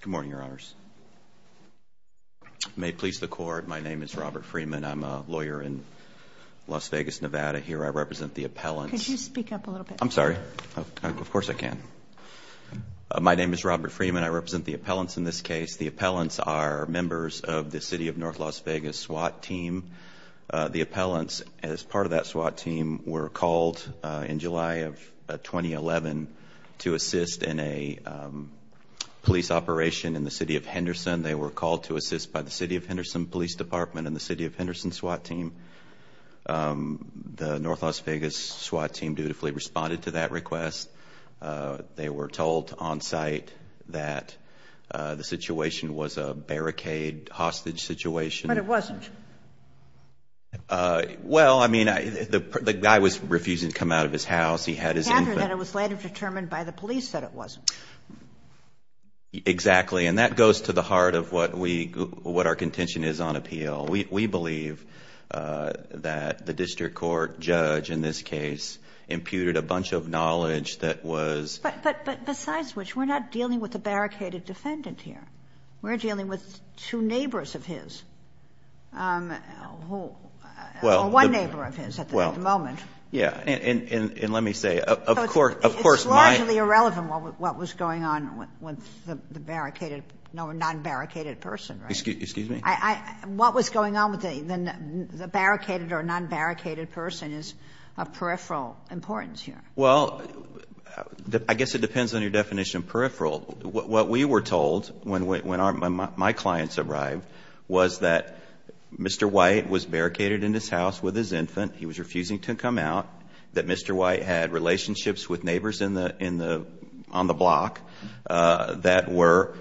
Good morning, your honors. May it please the court, my name is Robert Freeman. I'm a lawyer in Las Vegas, Nevada. Here I represent the appellants. Could you speak up a little bit? I'm sorry, of course I can. My name is Robert Freeman. I represent the appellants in this case. The appellants are members of the City of North Las Vegas SWAT team. The appellants, as part of that SWAT team, were called in July of 2011 to assist in a police operation in the City of Henderson. They were called to assist by the City of Henderson Police Department and the City of Henderson SWAT team. The North Las Vegas SWAT team dutifully responded to that request. They were told on-site that the situation was a barricade hostage situation. But it wasn't. Well, I mean, the guy was refusing to come out of his house. He had his infant. It was later determined by the police that it wasn't. Exactly, and that goes to the heart of what we, what our contention is on appeal. We believe that the district court judge in this case imputed a bunch of knowledge that was... But besides which, we're not dealing with a barricaded defendant here. We're dealing with two neighbors of his. Well, one neighbor of his at the moment. Yes, and let me say, of course, my... It's largely irrelevant what was going on with the barricaded or non-barricaded person, right? Excuse me? What was going on with the barricaded or non-barricaded person is of peripheral importance here. Well, I guess it depends on your definition of peripheral. What we were told when our, when my clients arrived was that Mr. White was barricaded in his house with his infant. He was refusing to come out. That Mr. White had relationships with neighbors in the, in the, on the block that were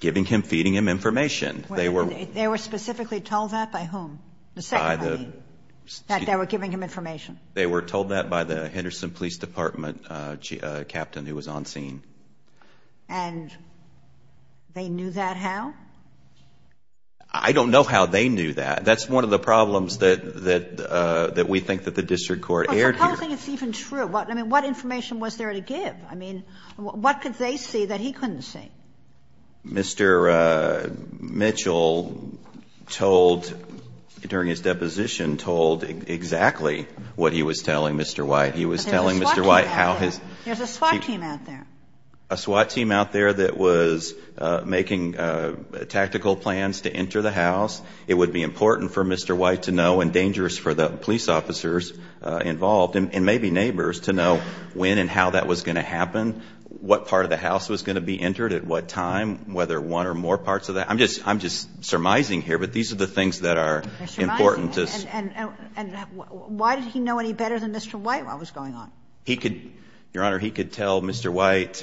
giving him, feeding him information. They were... They were specifically told that by whom? The second party, that they were giving him information. They were told that by the Henderson Police Department captain who was on scene. And they knew that how? I don't know how they knew that. That's one of the problems that, that, that we think that the district court aired here. Well, so how do you think it's even true? I mean, what information was there to give? I mean, what could they see that he couldn't see? Mr. Mitchell told, during his deposition, told exactly what he was telling Mr. White. He was telling Mr. White how his... There's a SWAT team out there. A SWAT team out there that was making tactical plans to enter the house. It would be important for Mr. White to know, and dangerous for the police officers involved, and maybe neighbors, to know when and how that was going to happen, what part of the house was going to be entered, at what time, whether one or more parts of that. I'm just, I'm just surmising here, but these are the things that are important. And why did he know any better than Mr. White while it was going on? He could, Your Honor, he could tell Mr. White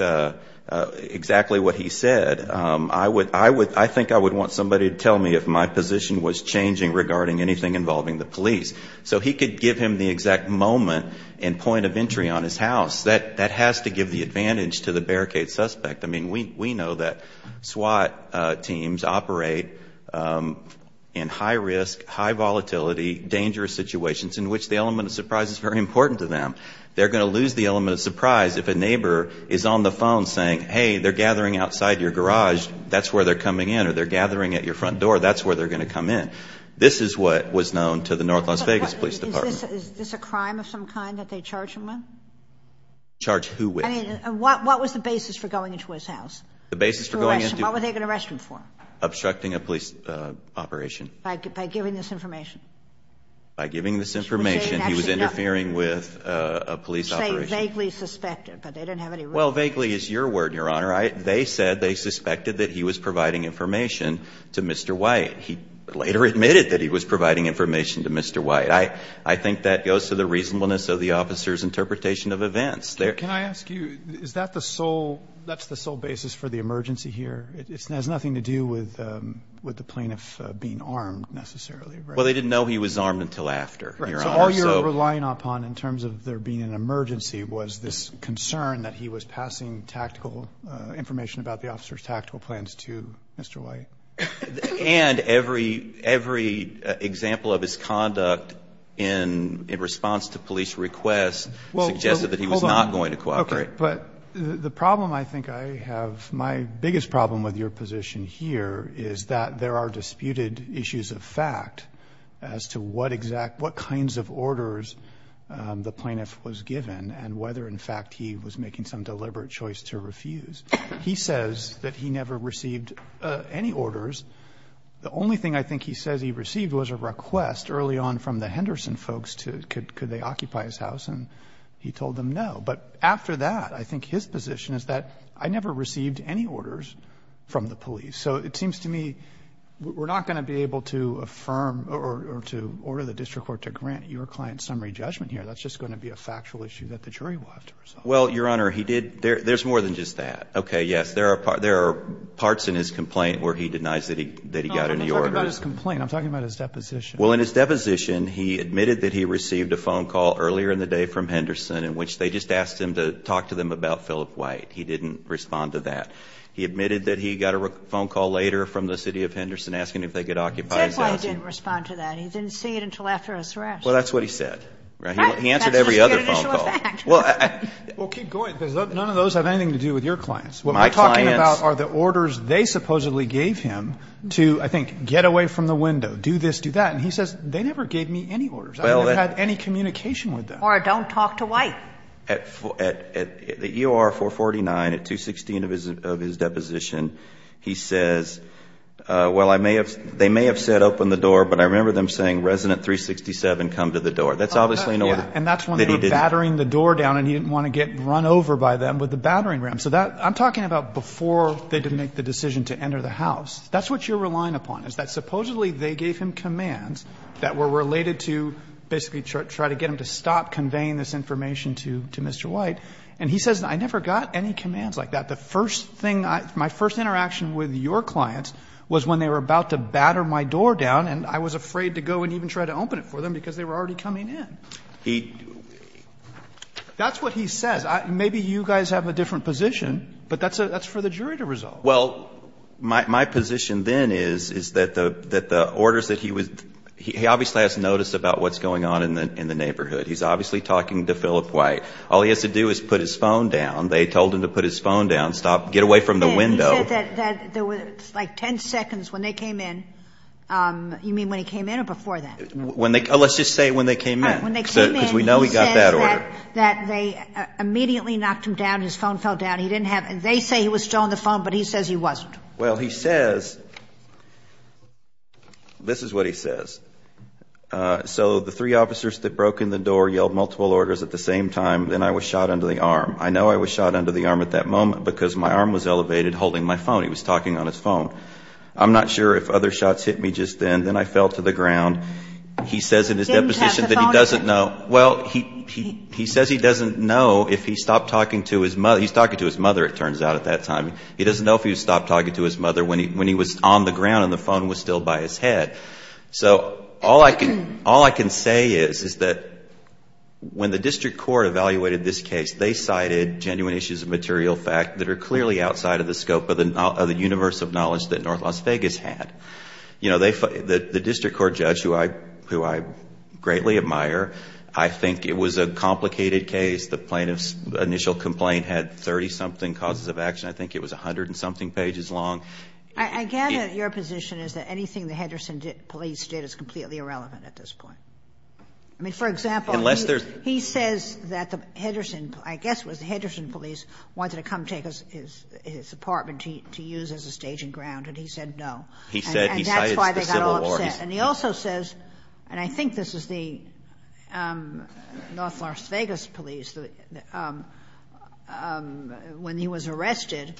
exactly what he said. I would, I would, I think I would want somebody to tell me if my position was changing regarding anything involving the police. So he could give him the exact moment and point of entry on his house. That, that has to give the advantage to the barricade suspect. I mean, we, we know that SWAT teams operate in high risk, high volatility, dangerous situations in which the element of surprise is very important to them. They're going to lose the element of surprise if a neighbor is on the phone saying, hey, they're gathering outside your garage, that's where they're coming in, or they're gathering at your front door, that's where they're going to come in. This is what was known to the North Las Vegas Police Department. Is this a crime of some kind that they charge him with? Charge who with? I mean, what, what was the basis for going into his house? The basis for going into- What were they going to arrest him for? Obstructing a police operation. By, by giving this information? By giving this information, he was interfering with a police operation. You're saying vaguely suspected, but they didn't have any reason to. Well, vaguely is your word, Your Honor. I, they said they suspected that he was providing information to Mr. White. He later admitted that he was providing information to Mr. White. I, I think that goes to the reasonableness of the officer's interpretation of events. There- Can I ask you, is that the sole, that's the sole basis for the emergency here? It, it has nothing to do with, with the plaintiff being armed necessarily, right? Well, they didn't know he was armed until after, Your Honor, so- Right, so all you're relying upon in terms of there being an emergency was this concern that he was passing tactical information about the officer's tactical plans to Mr. White. And every, every example of his conduct in, in response to police requests- Well, hold on. Suggested that he was not going to cooperate. Okay, but the problem I think I have, my biggest problem with your position here is that there are disputed issues of fact as to what exact, what kinds of orders the plaintiff was given and whether in fact he was making some deliberate choice to refuse. He says that he never received any orders. The only thing I think he says he received was a request early on from the Henderson folks to, could, could they occupy his house, and he told them no. But after that, I think his position is that I never received any orders from the police. So it seems to me, we're not going to be able to affirm or, or to order the district court to grant your client summary judgment here. That's just going to be a factual issue that the jury will have to resolve. Well, Your Honor, he did, there, there's more than just that. Okay, yes, there are, there are parts in his complaint where he denies that he, that he got any orders. No, I'm talking about his complaint. I'm talking about his deposition. Well, in his deposition, he admitted that he received a phone call earlier in the day from Henderson in which they just asked him to talk to them about Philip White. He didn't respond to that. He admitted that he got a phone call later from the city of Henderson asking if they could occupy his house. That's why he didn't respond to that. He didn't see it until after his arrest. Well, that's what he said. Right. He answered every other phone call. Well, keep going, because none of those have anything to do with your clients. My clients. What I'm talking about are the orders they supposedly gave him to, I think, get away from the window, do this, do that, and he says, they never gave me any orders. I never had any communication with them. Or don't talk to White. At the EOR 449, at 216 of his deposition, he says, well, I may have, they may have said open the door, but I remember them saying resident 367, come to the door. That's obviously an order. And that's when they were battering the door down and he didn't want to get run over by them with the battering ram. So that I'm talking about before they didn't make the decision to enter the house. That's what you're relying upon is that supposedly they gave him commands that were related to basically try to get him to stop conveying this information to Mr. White. And he says, I never got any commands like that. The first thing, my first interaction with your clients was when they were about to batter my door down and I was afraid to go and even try to open it for them because they were already coming in. He. That's what he says. Maybe you guys have a different position, but that's for the jury to resolve. Well, my position then is that the orders that he was, he obviously has notice about what's going on in the neighborhood. He's obviously talking to Philip White. All he has to do is put his phone down. They told him to put his phone down, stop, get away from the window. He said that there was like 10 seconds when they came in. You mean when he came in or before that? When they, let's just say when they came in, because we know he got that order. That they immediately knocked him down. His phone fell down. He didn't have, they say he was still on the phone, but he says he wasn't. Well he says, this is what he says. Uh, so the three officers that broke in the door yelled multiple orders at the same time. Then I was shot under the arm. I know I was shot under the arm at that moment because my arm was elevated holding my phone. He was talking on his phone. I'm not sure if other shots hit me just then. Then I fell to the ground. He says in his deposition that he doesn't know. Well, he, he, he says he doesn't know if he stopped talking to his mother. He's talking to his mother. It turns out at that time, he doesn't know if he stopped talking to his mother when he, when he was on the ground and the phone was still by his head. So all I can, all I can say is, is that when the district court evaluated this case, they cited genuine issues of material fact that are clearly outside of the scope of the universe of knowledge that North Las Vegas had. You know, they, the district court judge, who I, who I greatly admire, I think it was a complicated case. The plaintiff's initial complaint had 30 something causes of action. I think it was a hundred and something pages long. I gather your position is that anything the Henderson police did is completely irrelevant at this point. I mean, for example, unless there's, he says that the Henderson, I guess it was the Henderson police wanted to come take us his, his apartment to, to use as a staging ground and he said no. He said he cited the Civil War. And that's why they got all upset. And he also says, and I think this is the, um, North Las Vegas police that, um, um, when he was arrested,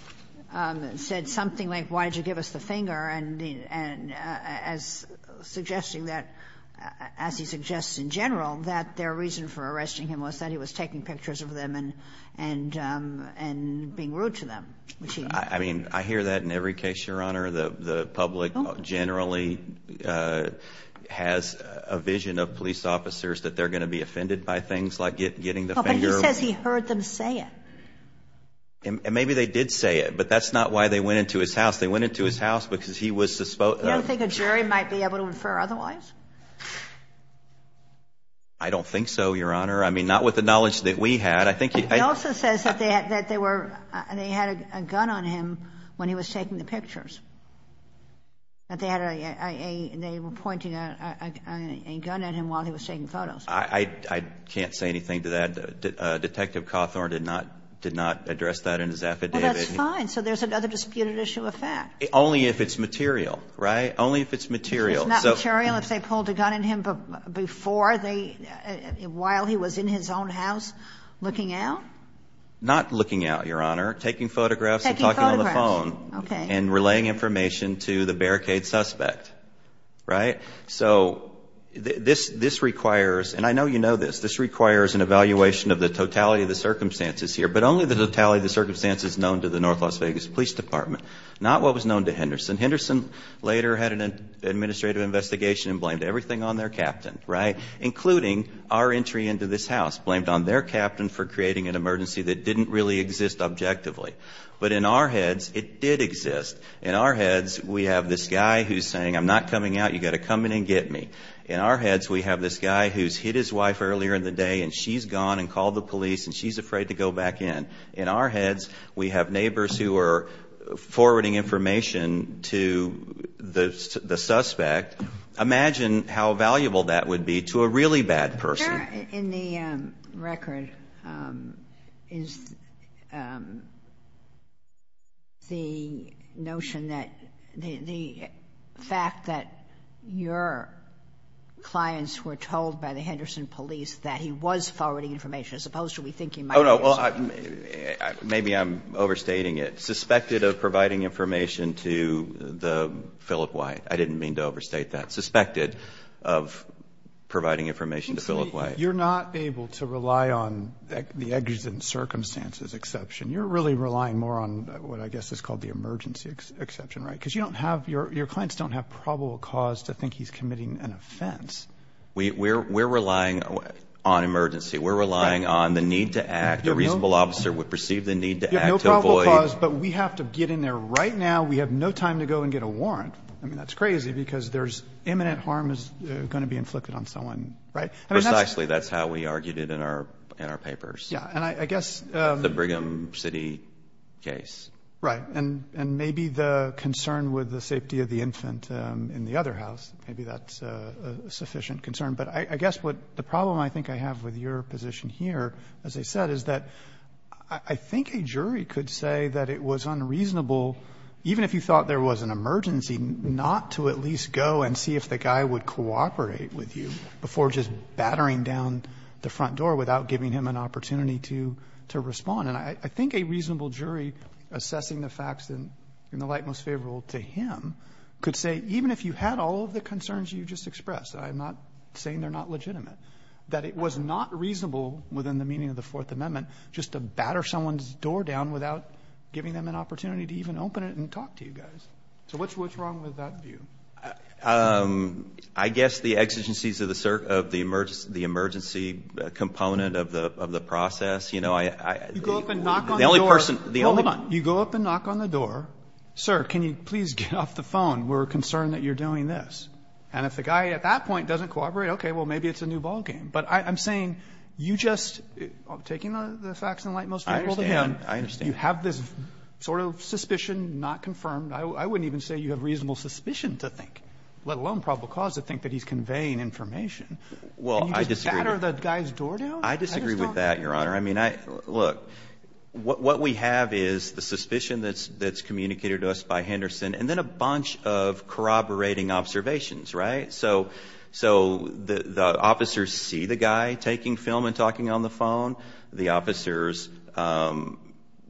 um, said something like, why did you give us the finger? And, and, uh, as suggesting that, as he suggests in general, that their reason for arresting him was that he was taking pictures of them and, and, um, and being rude to them, which he did. I mean, I hear that in every case, Your Honor. The, the public generally, uh, has a vision of police officers that they're going to be offended by things like getting the finger. But he says he heard them say it. And, and maybe they did say it, but that's not why they went into his house. They went into his house because he was suspo- You don't think a jury might be able to infer otherwise? I don't think so, Your Honor. I mean, not with the knowledge that we had. I think he- He also says that they had, that they were, they had a gun on him when he was taking the pictures. That they had a, a, they were pointing a, a, a gun at him while he was taking photos. I, I, I can't say anything to that. And, uh, Detective Cawthorne did not, did not address that in his affidavit. Well, that's fine. So there's another disputed issue of fact. Only if it's material, right? Only if it's material. So- If it's not material, if they pulled a gun at him before they, while he was in his own house looking out? Not looking out, Your Honor. Taking photographs- Taking photographs. And talking on the phone. Okay. And relaying information to the barricade suspect, right? So this, this requires, and I know you know this, this requires an evaluation of the totality of the circumstances here. But only the totality of the circumstances known to the North Las Vegas Police Department. Not what was known to Henderson. Henderson later had an administrative investigation and blamed everything on their captain, right? Including our entry into this house. Blamed on their captain for creating an emergency that didn't really exist objectively. But in our heads, it did exist. In our heads, we have this guy who's saying, I'm not coming out, you gotta come in and get me. In our heads, we have this guy who's hit his wife earlier in the day and she's gone and called the police and she's afraid to go back in. In our heads, we have neighbors who are forwarding information to the suspect. Imagine how valuable that would be to a really bad person. In the record, is the notion that, the fact that your clients were told by the Henderson police that he was forwarding information as opposed to we think he might have. Oh no, well, maybe I'm overstating it. Suspected of providing information to the Philip White. I didn't mean to overstate that. Suspected of providing information to Philip White. You're not able to rely on the exigent circumstances exception. You're really relying more on what I guess is called the emergency exception, right? Because you don't have, your clients don't have probable cause to think he's committing an offense. We're relying on emergency. We're relying on the need to act. A reasonable officer would perceive the need to act to avoid. You have no probable cause, but we have to get in there right now. We have no time to go and get a warrant. I mean, that's crazy because there's imminent harm is going to be inflicted on someone, right? Precisely, that's how we argued it in our papers. Yeah, and I guess. The Brigham City case. Right, and maybe the concern with the safety of the infant in the other house, maybe that's a sufficient concern, but I guess what the problem I think I have with your position here, as I said, is that I think a jury could say that it was unreasonable, even if you thought there was an emergency, not to at least go and see if the guy would battering down the front door without giving him an opportunity to respond, and I think a reasonable jury assessing the facts in the light most favorable to him could say, even if you had all of the concerns you just expressed, I'm not saying they're not legitimate, that it was not reasonable within the meaning of the Fourth Amendment just to batter someone's door down without giving them an opportunity to even open it and talk to you guys. So what's wrong with that view? I guess the exigencies of the emergency component of the process, you know, I. You go up and knock on the door. The only person. Hold on. You go up and knock on the door. Sir, can you please get off the phone? We're concerned that you're doing this. And if the guy at that point doesn't cooperate, okay, well, maybe it's a new ballgame. But I'm saying you just, taking the facts in the light most favorable to him. I understand. You have this sort of suspicion not confirmed. I wouldn't even say you have reasonable suspicion to think, let alone probable cause to think that he's conveying information. Well, I disagree with that, Your Honor. I mean, look, what we have is the suspicion that's communicated to us by Henderson and then a bunch of corroborating observations, right? So the officers see the guy taking film and talking on the phone. The officers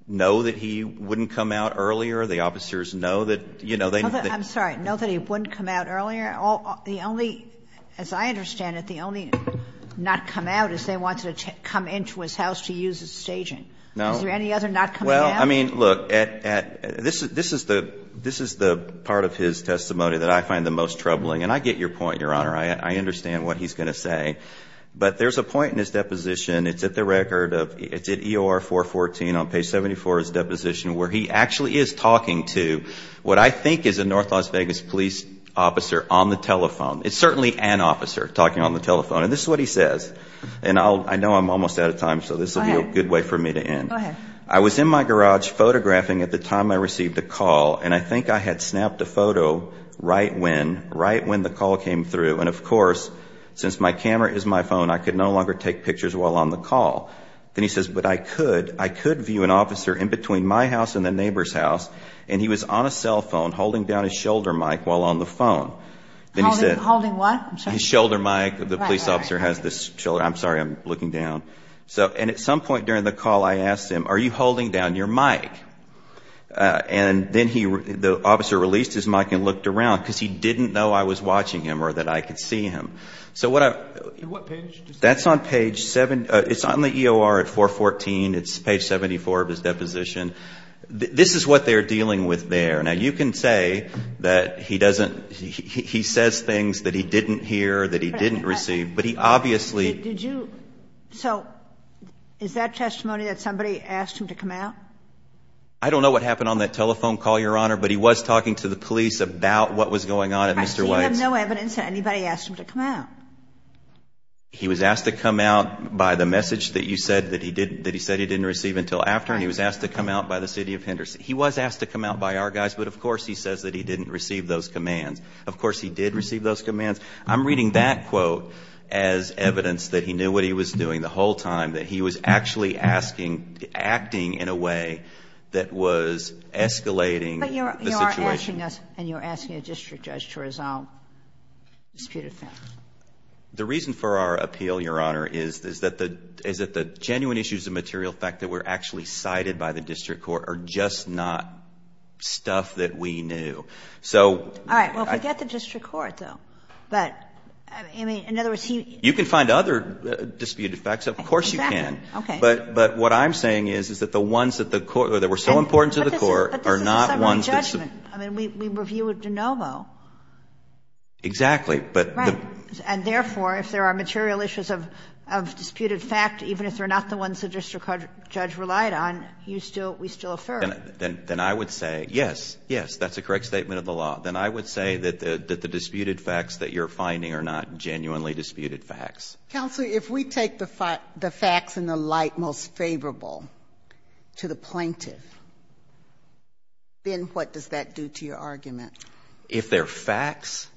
know that he wouldn't come out earlier. The officers know that, you know, they know that he wouldn't come out earlier. The only, as I understand it, the only not come out is they wanted to come into his house to use his staging. Is there any other not coming out? Well, I mean, look, this is the part of his testimony that I find the most troubling. And I get your point, Your Honor. I understand what he's going to say. But there's a point in his deposition, it's at the record of, it's at EOR 414 on page 74 of his deposition, where he actually is talking to what I think is a North Las Vegas police officer on the telephone. It's certainly an officer talking on the telephone. And this is what he says. And I know I'm almost out of time, so this will be a good way for me to end. I was in my garage photographing at the time I received a call. And I think I had snapped a photo right when, right when the call came through. And of course, since my camera is my phone, I could no longer take pictures while on the call. Then he says, but I could, I could view an officer in between my house and the neighbor's house. And he was on a cell phone holding down his shoulder mic while on the phone. Then he said, holding what? His shoulder mic, the police officer has this shoulder, I'm sorry, I'm looking down. So, and at some point during the call, I asked him, are you holding down your mic? And then he, the officer released his mic and looked around because he didn't know I was watching him or that I could see him. So what I, that's on page seven. It's on the EOR at 414, it's page 74 of his deposition. This is what they're dealing with there. Now you can say that he doesn't, he says things that he didn't hear, that he didn't receive, but he obviously- Did you, so is that testimony that somebody asked him to come out? I don't know what happened on that telephone call, Your Honor, but he was talking to the police about what was going on at Mr. White's. I see you have no evidence that anybody asked him to come out. He was asked to come out by the message that you said that he didn't, that he said he didn't receive until after, and he was asked to come out by the city of Henderson. He was asked to come out by our guys, but of course he says that he didn't receive those commands. Of course he did receive those commands. I'm reading that quote as evidence that he knew what he was doing the whole time, that he was actually asking, acting in a way that was escalating the situation. You're asking us and you're asking a district judge to resolve disputed facts. The reason for our appeal, Your Honor, is that the genuine issues of material fact that were actually cited by the district court are just not stuff that we knew. All right. Well, forget the district court, though. But, I mean, in other words, he- You can find other disputed facts. Of course you can. Exactly. Okay. But what I'm saying is that the ones that were so important to the court are not ones that- Wait a minute. I mean, we review it de novo. Exactly. But- Right. And therefore, if there are material issues of disputed fact, even if they're not the ones the district judge relied on, you still, we still affirm. Then I would say, yes, yes, that's a correct statement of the law. Then I would say that the disputed facts that you're finding are not genuinely disputed facts. Counsel, if we take the facts in the light most favorable to the plaintiff, then what does that do to your argument? If they're facts?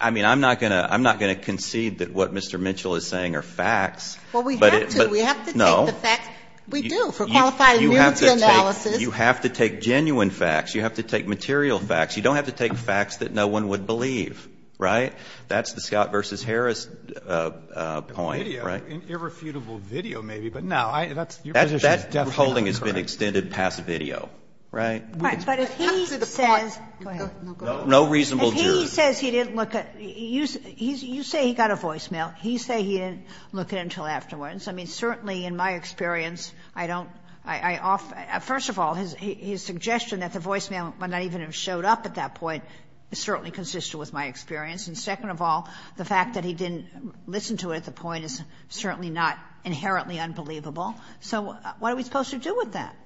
I mean, I'm not going to concede that what Mr. Mitchell is saying are facts. Well, we have to. We have to take the facts. No. We do, for qualified immunity analysis. You have to take genuine facts. You have to take material facts. You don't have to take facts that no one would believe. Right? That's the Scott v. Harris point. Right? Irrefutable video, maybe. But no. That's your position. That holding has been extended past video. Right? But if he says- Go ahead. No reasonable jurors. If he says he didn't look at it, you say he got a voicemail. You say he didn't look at it until afterwards. I mean, certainly in my experience, I don't. First of all, his suggestion that the voicemail might not even have showed up at that point certainly consisted with my experience. And second of all, the fact that he didn't listen to it at the point is certainly not inherently unbelievable. So what are we supposed to do with that?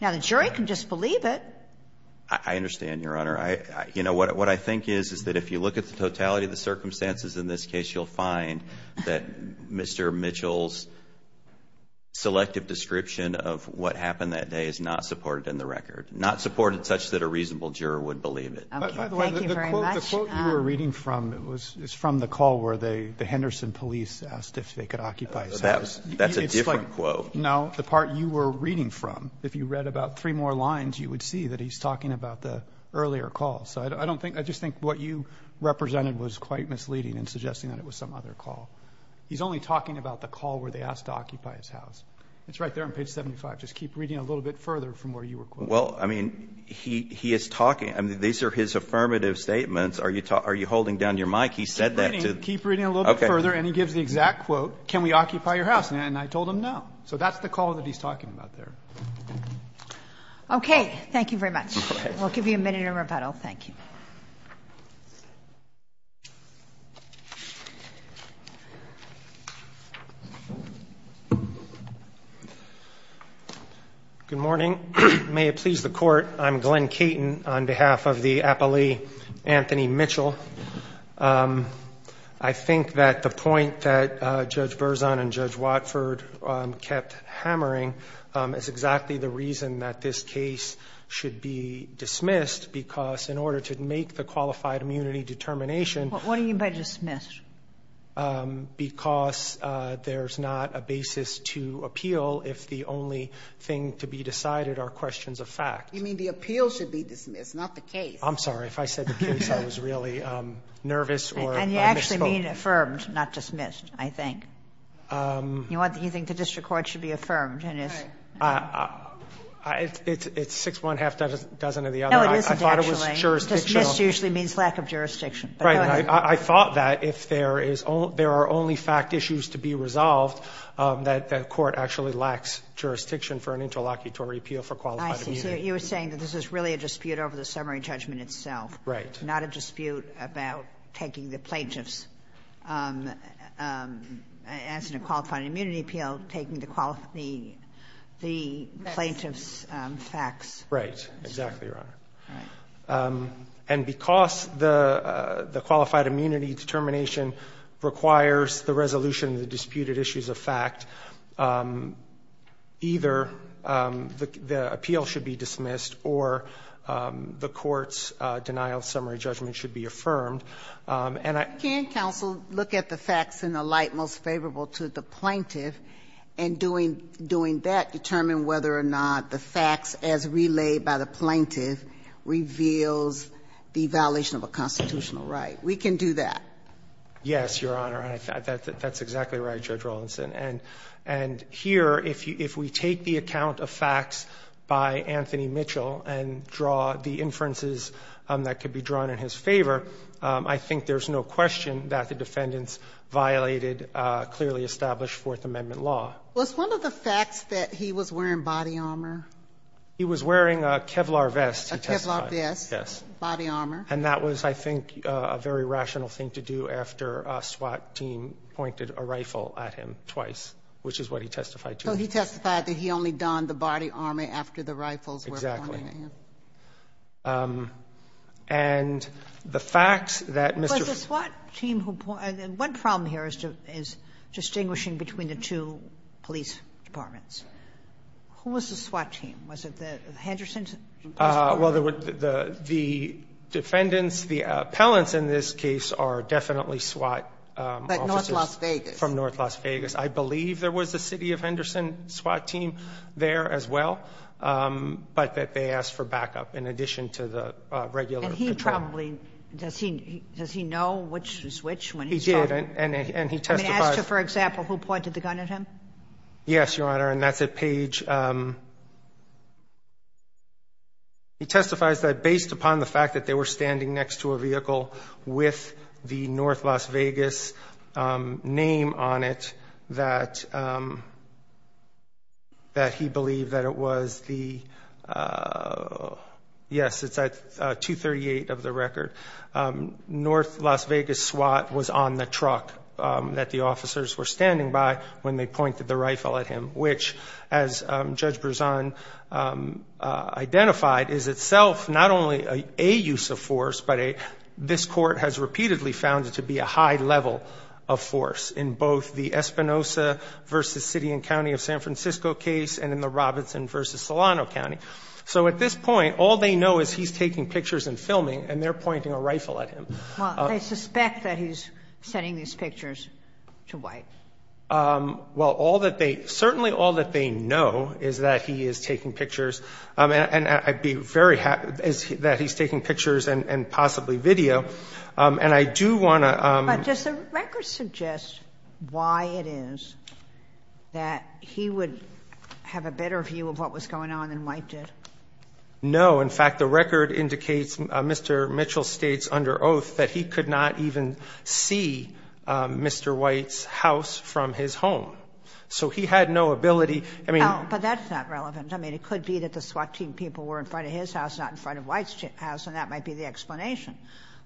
Now, the jury can just believe it. I understand, Your Honor. You know, what I think is, is that if you look at the totality of the circumstances in this case, you'll find that Mr. Mitchell's selective description of what happened that day is not supported in the record. Not supported such that a reasonable juror would believe it. Okay. Thank you very much. The quote you were reading from, it's from the call where the Henderson police asked if they could occupy his house. That's a different quote. No. The part you were reading from. If you read about three more lines, you would see that he's talking about the earlier call. So I don't think, I just think what you represented was quite misleading in suggesting that it was some other call. He's only talking about the call where they asked to occupy his house. It's right there on page 75. Just keep reading a little bit further from where you were quoting. Well, I mean, he is talking. These are his affirmative statements. Are you holding down your mic? He said that. Keep reading a little bit further and he gives the exact quote. Can we occupy your house? And I told him no. So that's the call that he's talking about there. Okay. Thank you very much. We'll give you a minute in rebuttal. Thank you. Good morning. May it please the court. I'm Glen Caton on behalf of the appellee Anthony Mitchell. I think that the point that Judge Berzon and Judge Watford kept hammering is exactly the reason that this case should be dismissed, because in order to make the qualified immunity determination. What do you mean by dismissed? Because there's not a basis to appeal if the only thing to be decided are questions of fact. You mean the appeal should be dismissed, not the case. I'm sorry. If I said the case, I was really nervous. And you actually mean affirmed, not dismissed, I think. You think the district court should be affirmed. It's six one half dozen of the other. No, it isn't actually. It's a jurisdiction. Dismissed usually means lack of jurisdiction. Right. I thought that if there are only fact issues to be resolved, that the court actually lacks jurisdiction for an interlocutory appeal for qualified immunity. I see. So you were saying that this is really a dispute over the summary judgment itself. Right. Not a dispute about taking the plaintiff's answer to qualified immunity appeal, taking the plaintiff's facts. Right. Exactly, Your Honor. Right. And because the qualified immunity determination requires the resolution of the disputed issues of fact, either the appeal should be dismissed or the court's denial of summary judgment should be affirmed. Can counsel look at the facts in a light most favorable to the plaintiff and doing that determine whether or not the facts as relayed by the plaintiff reveals the violation of a constitutional right? We can do that. Yes, Your Honor. That's exactly right, Judge Rawlinson. And here, if we take the account of facts by Anthony Mitchell and draw the inferences that could be drawn in his favor, I think there's no question that the defendant's violated clearly established Fourth Amendment law. Was one of the facts that he was wearing body armor? He was wearing a Kevlar vest, he testified. A Kevlar vest. Yes. Body armor. And that was, I think, a very rational thing to do after a SWAT team pointed a rifle at him twice, which is what he testified to. So he testified that he only donned the body armor after the rifles were pointed Exactly. And the fact that Mr. Franklin was a SWAT team who pointed at him. One problem here is distinguishing between the two police departments. Who was the SWAT team? Was it the Henderson? Well, the defendants, the appellants in this case are definitely SWAT officers. But North Las Vegas. From North Las Vegas. I believe there was a city of Henderson SWAT team there as well, but that they asked for backup in addition to the regular patrol. Does he know which switch? He did. And he testified. For example, who pointed the gun at him? Yes, Your Honor, and that's at Page. He testifies that based upon the fact that they were standing next to a vehicle with the North Las Vegas name on it, that he believed that it was the, yes, it's at 238 of the record. North Las Vegas SWAT was on the truck that the officers were standing by when they pointed the rifle at him. Which, as Judge Berzon identified, is itself not only a use of force, but this court has repeatedly found it to be a high level of force in both the Espinosa v. City and County of San Francisco case and in the Robinson v. Solano County. So at this point, all they know is he's taking pictures and filming and they're pointing a rifle at him. Well, they suspect that he's sending these pictures to White. Well, all that they – certainly all that they know is that he is taking pictures and I'd be very happy that he's taking pictures and possibly video. And I do want to – But does the record suggest why it is that he would have a better view of what was going on than White did? No. In fact, the record indicates, Mr. Mitchell states under oath, that he could not even see Mr. White's house from his home. So he had no ability – I mean – But that's not relevant. I mean, it could be that the SWAT team people were in front of his house, not in front of White's house, and that might be the explanation.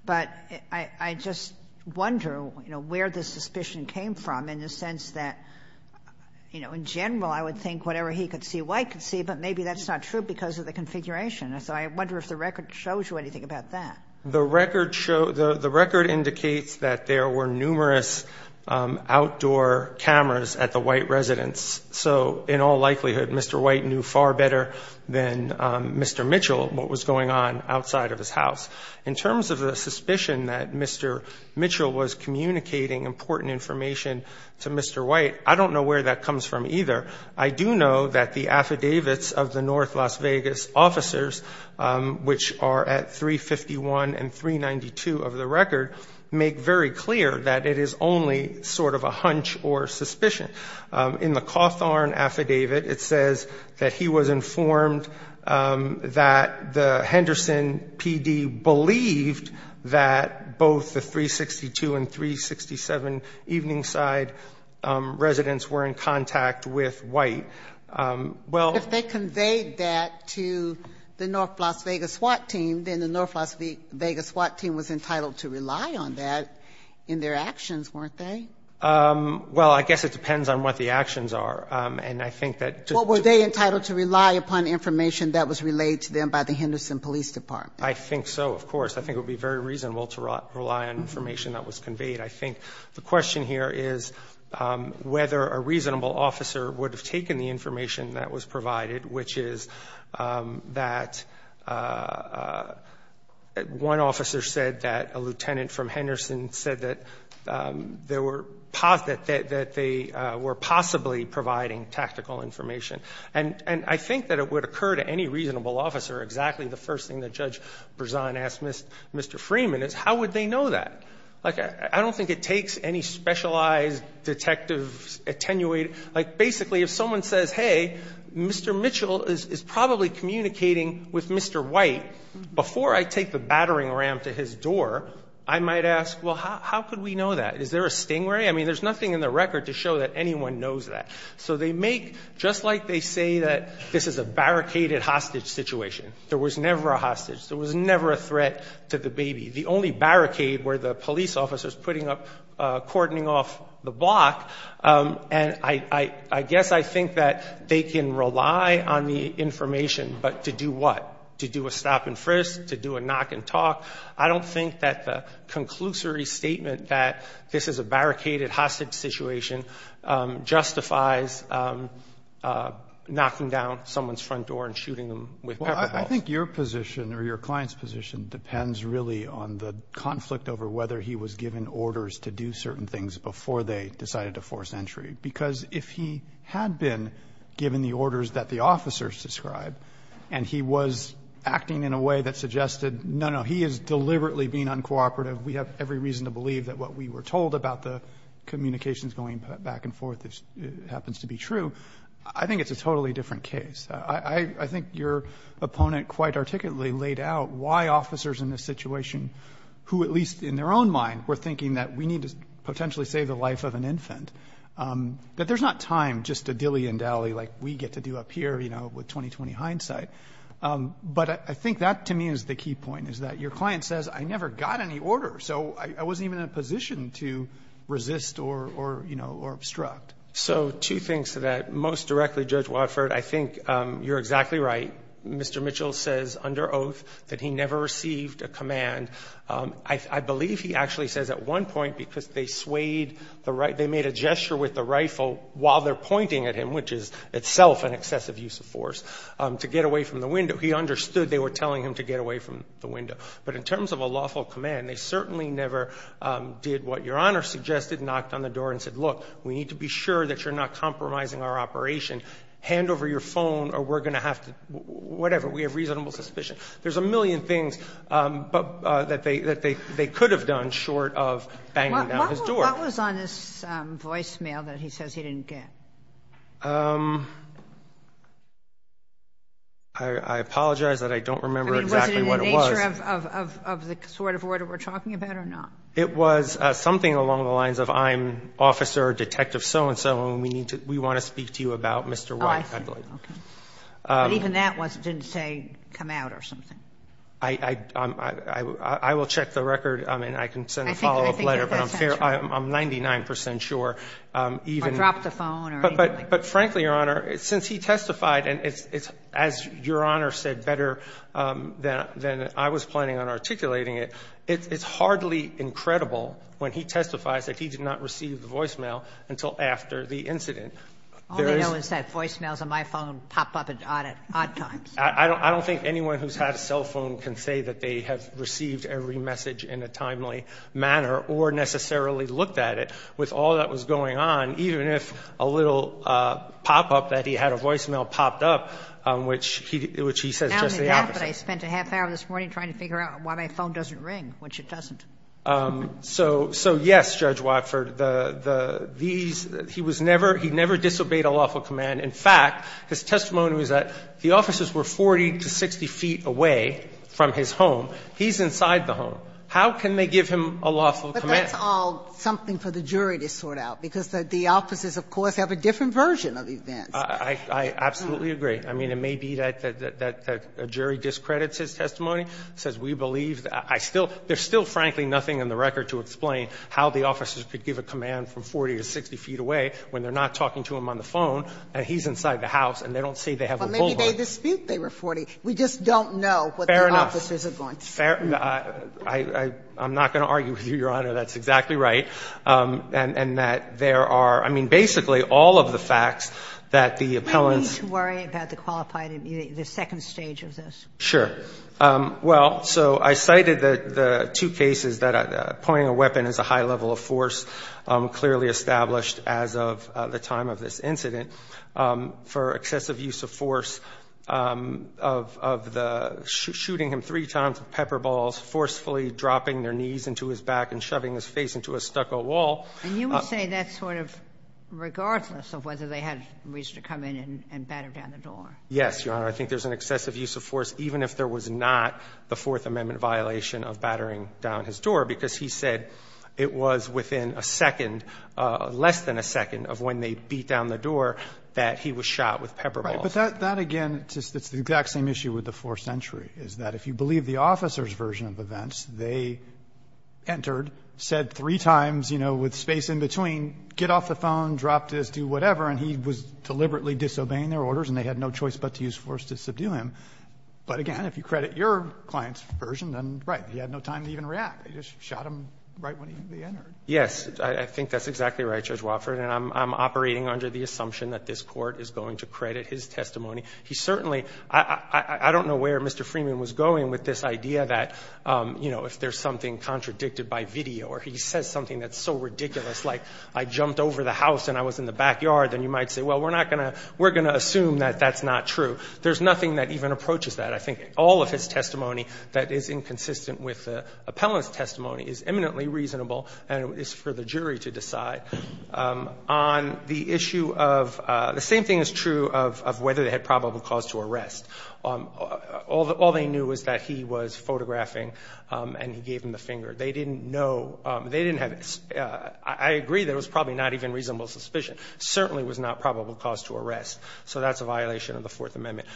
But I just wonder, you know, where the suspicion came from in the sense that, you know, in general, I would think whatever he could see, White could see, but maybe that's not true because of the configuration. So I wonder if the record shows you anything about that. The record indicates that there were numerous outdoor cameras at the White residence. So in all likelihood, Mr. White knew far better than Mr. Mitchell what was going on outside of his house. In terms of the suspicion that Mr. Mitchell was communicating important information to Mr. White, I don't know where that comes from either. I do know that the affidavits of the North Las Vegas officers, which are at 351 and 392 of the record, make very clear that it is only sort of a hunch or suspicion. In the Cawthorn affidavit, it says that he was informed that the Henderson PD believed that both the 362 and 367 Eveningside residents were in contact with White. Well ---- If they conveyed that to the North Las Vegas SWAT team, then the North Las Vegas SWAT team was entitled to rely on that in their actions, weren't they? Well, I guess it depends on what the actions are. And I think that ---- Well, were they entitled to rely upon information that was relayed to them by the Henderson Police Department? I think so, of course. I think it would be very reasonable to rely on information that was conveyed. I think the question here is whether a reasonable officer would have taken the information that was provided, which is that one officer said that a lieutenant from Henderson said that they were possibly providing tactical information. And I think that it would occur to any reasonable officer, exactly the first thing that Judge Berzon asked Mr. Freeman, is how would they know that? Like, I don't think it takes any specialized detective attenuated. Like, basically, if someone says, hey, Mr. Mitchell is probably communicating with Mr. White, before I take the battering ram to his door, I might ask, well, how could we know that? Is there a stingray? I mean, there's nothing in the record to show that anyone knows that. So they make, just like they say that this is a barricaded hostage situation. There was never a hostage. There was never a threat to the baby. The only barricade were the police officers putting up, cordoning off the block. And I guess I think that they can rely on the information, but to do what? To do a stop and frisk? To do a knock and talk? I don't think that the conclusory statement that this is a barricaded hostage situation justifies knocking down someone's front door and shooting them with pepper balls. Well, I think your position or your client's position depends really on the conflict over whether he was given orders to do certain things before they decided to force entry. Because if he had been given the orders that the officers described and he was acting in a way that suggested, no, no, he is deliberately being uncooperative, we have every reason to believe that what we were told about the communications going back and forth happens to be true, I think it's a totally different case. I think your opponent quite articulately laid out why officers in this situation, who at least in their own mind were thinking that we need to potentially save the life of an infant, that there's not time just to dilly and dally like we get to do up here, you know, with 20-20 hindsight. But I think that, to me, is the key point, is that your client says, I never got any order, so I wasn't even in a position to resist or, you know, or obstruct. So two things to that. Most directly, Judge Watford, I think you're exactly right. Mr. Mitchell says under oath that he never received a command. I believe he actually says at one point because they swayed the right – the right to force, to get away from the window. He understood they were telling him to get away from the window. But in terms of a lawful command, they certainly never did what Your Honor suggested and knocked on the door and said, look, we need to be sure that you're not compromising our operation, hand over your phone or we're going to have to – whatever. We have reasonable suspicion. There's a million things that they could have done short of banging down his door. Kagan. What was on his voicemail that he says he didn't get? I apologize that I don't remember exactly what it was. I mean, was it in the nature of the sort of order we're talking about or not? It was something along the lines of I'm Officer Detective so-and-so and we need to – we want to speak to you about Mr. White. Oh, I see. Okay. But even that didn't say come out or something? I will check the record. I mean, I can send a follow-up letter. But I'm 99 percent sure even – Or drop the phone or anything like that. But frankly, Your Honor, since he testified and it's, as Your Honor said better than I was planning on articulating it, it's hardly incredible when he testifies that he did not receive the voicemail until after the incident. All they know is that voicemails on my phone pop up at odd times. I don't think anyone who's had a cell phone can say that they have received every message in a timely manner or necessarily looked at it. With all that was going on, even if a little pop-up that he had a voicemail popped up, which he – which he says just the opposite. Not only that, but I spent a half hour this morning trying to figure out why my phone doesn't ring, which it doesn't. So, yes, Judge Watford. These – he was never – he never disobeyed a lawful command. In fact, his testimony was that the officers were 40 to 60 feet away from his home. He's inside the home. How can they give him a lawful command? But that's all something for the jury to sort out, because the officers, of course, have a different version of events. I absolutely agree. I mean, it may be that a jury discredits his testimony, says we believe that I still – there's still, frankly, nothing in the record to explain how the officers could give a command from 40 to 60 feet away when they're not talking to him on the phone, and he's inside the house, and they don't say they have a phone call. Maybe they dispute they were 40. We just don't know what the officers are going to say. Fair enough. I'm not going to argue with you, Your Honor. That's exactly right. And that there are – I mean, basically, all of the facts that the appellants Can we at least worry about the qualified immediate – the second stage of this? Sure. Well, so I cited the two cases that pointing a weapon is a high level of force clearly established as of the time of this incident for excessive use of force of the – shooting him three times with pepper balls, forcefully dropping their knees into his back and shoving his face into a stucco wall. And you would say that's sort of regardless of whether they had reason to come in and batter down the door? Yes, Your Honor. I think there's an excessive use of force, even if there was not the Fourth Amendment violation of battering down his door, because he said it was within a second, less than a second of when they beat down the door, that he was shot with pepper balls. Right. But that, again, it's the exact same issue with the Fourth Century, is that if you believe the officer's version of events, they entered, said three times, you know, with space in between, get off the phone, drop this, do whatever, and he was deliberately disobeying their orders and they had no choice but to use force to subdue him. But, again, if you credit your client's version, then, right, he had no time to even react. He just shot him right when he entered. Yes. I think that's exactly right, Judge Wofford. And I'm operating under the assumption that this Court is going to credit his testimony. He certainly – I don't know where Mr. Freeman was going with this idea that, you know, if there's something contradicted by video or he says something that's so ridiculous, like I jumped over the house and I was in the backyard, then you might say, well, we're not going to – we're going to assume that that's not true. There's nothing that even approaches that. I think all of his testimony that is inconsistent with the appellant's testimony is eminently reasonable and it's for the jury to decide. On the issue of – the same thing is true of whether they had probable cause to arrest. All they knew was that he was photographing and he gave them the finger. They didn't know – they didn't have – I agree that it was probably not even reasonable suspicion. It certainly was not probable cause to arrest. So that's a violation of the Fourth Amendment.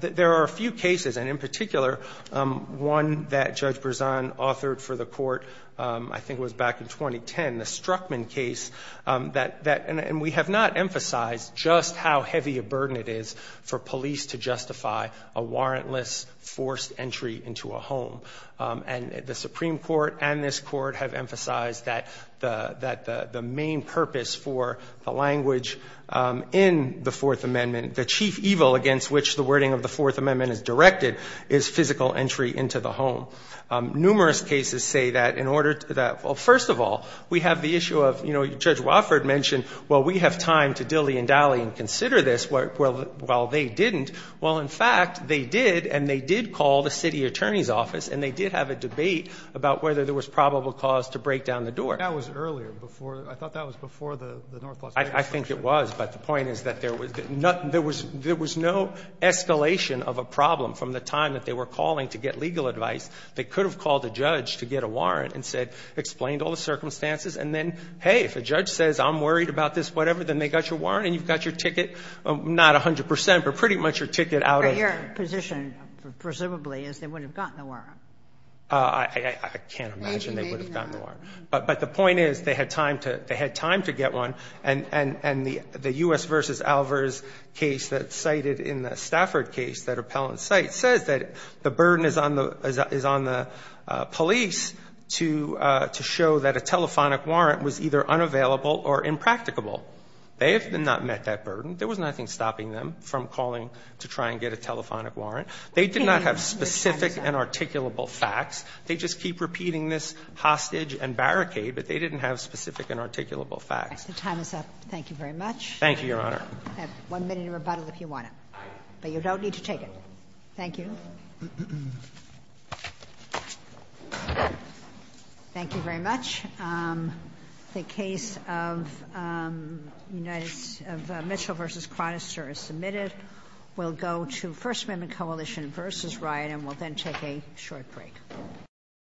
There are a few cases, and in particular, one that Judge Brezan authored for the Court, I think it was back in 2010, the Struckman case, that – and we have not emphasized just how heavy a burden it is for police to justify a warrantless forced entry into a home. And the Supreme Court and this Court have emphasized that the main purpose for the Fourth Amendment, the chief evil against which the wording of the Fourth Amendment is directed, is physical entry into the home. Numerous cases say that in order to – well, first of all, we have the issue of, you know, Judge Wofford mentioned, well, we have time to dilly and dally and consider this. Well, they didn't. Well, in fact, they did and they did call the city attorney's office and they did have a debate about whether there was probable cause to break down the door. That was earlier, before – I thought that was before the North Las Vegas case. I think it was, but the point is that there was nothing – there was no escalation of a problem from the time that they were calling to get legal advice. They could have called a judge to get a warrant and said – explained all the circumstances and then, hey, if a judge says I'm worried about this whatever, then they got your warrant and you've got your ticket, not 100 percent, but pretty much your ticket out of the home. But your position, presumably, is they would have gotten the warrant. I can't imagine they would have gotten the warrant. Maybe not. But the point is they had time to – they had time to get one and the U.S. v. Alvarez case that's cited in the Stafford case, that appellant's site, says that the burden is on the – is on the police to show that a telephonic warrant was either unavailable or impracticable. They have not met that burden. There was nothing stopping them from calling to try and get a telephonic warrant. They did not have specific and articulable facts. They just keep repeating this hostage and barricade, but they didn't have specific and articulable facts. The time is up. Thank you very much. Thank you, Your Honor. I have one minute to rebuttal if you want it. But you don't need to take it. Thank you. Thank you very much. The case of United – of Mitchell v. Chronister is submitted. We'll go to First Amendment Coalition v. Wright, and we'll then take a short break. We'll be right back.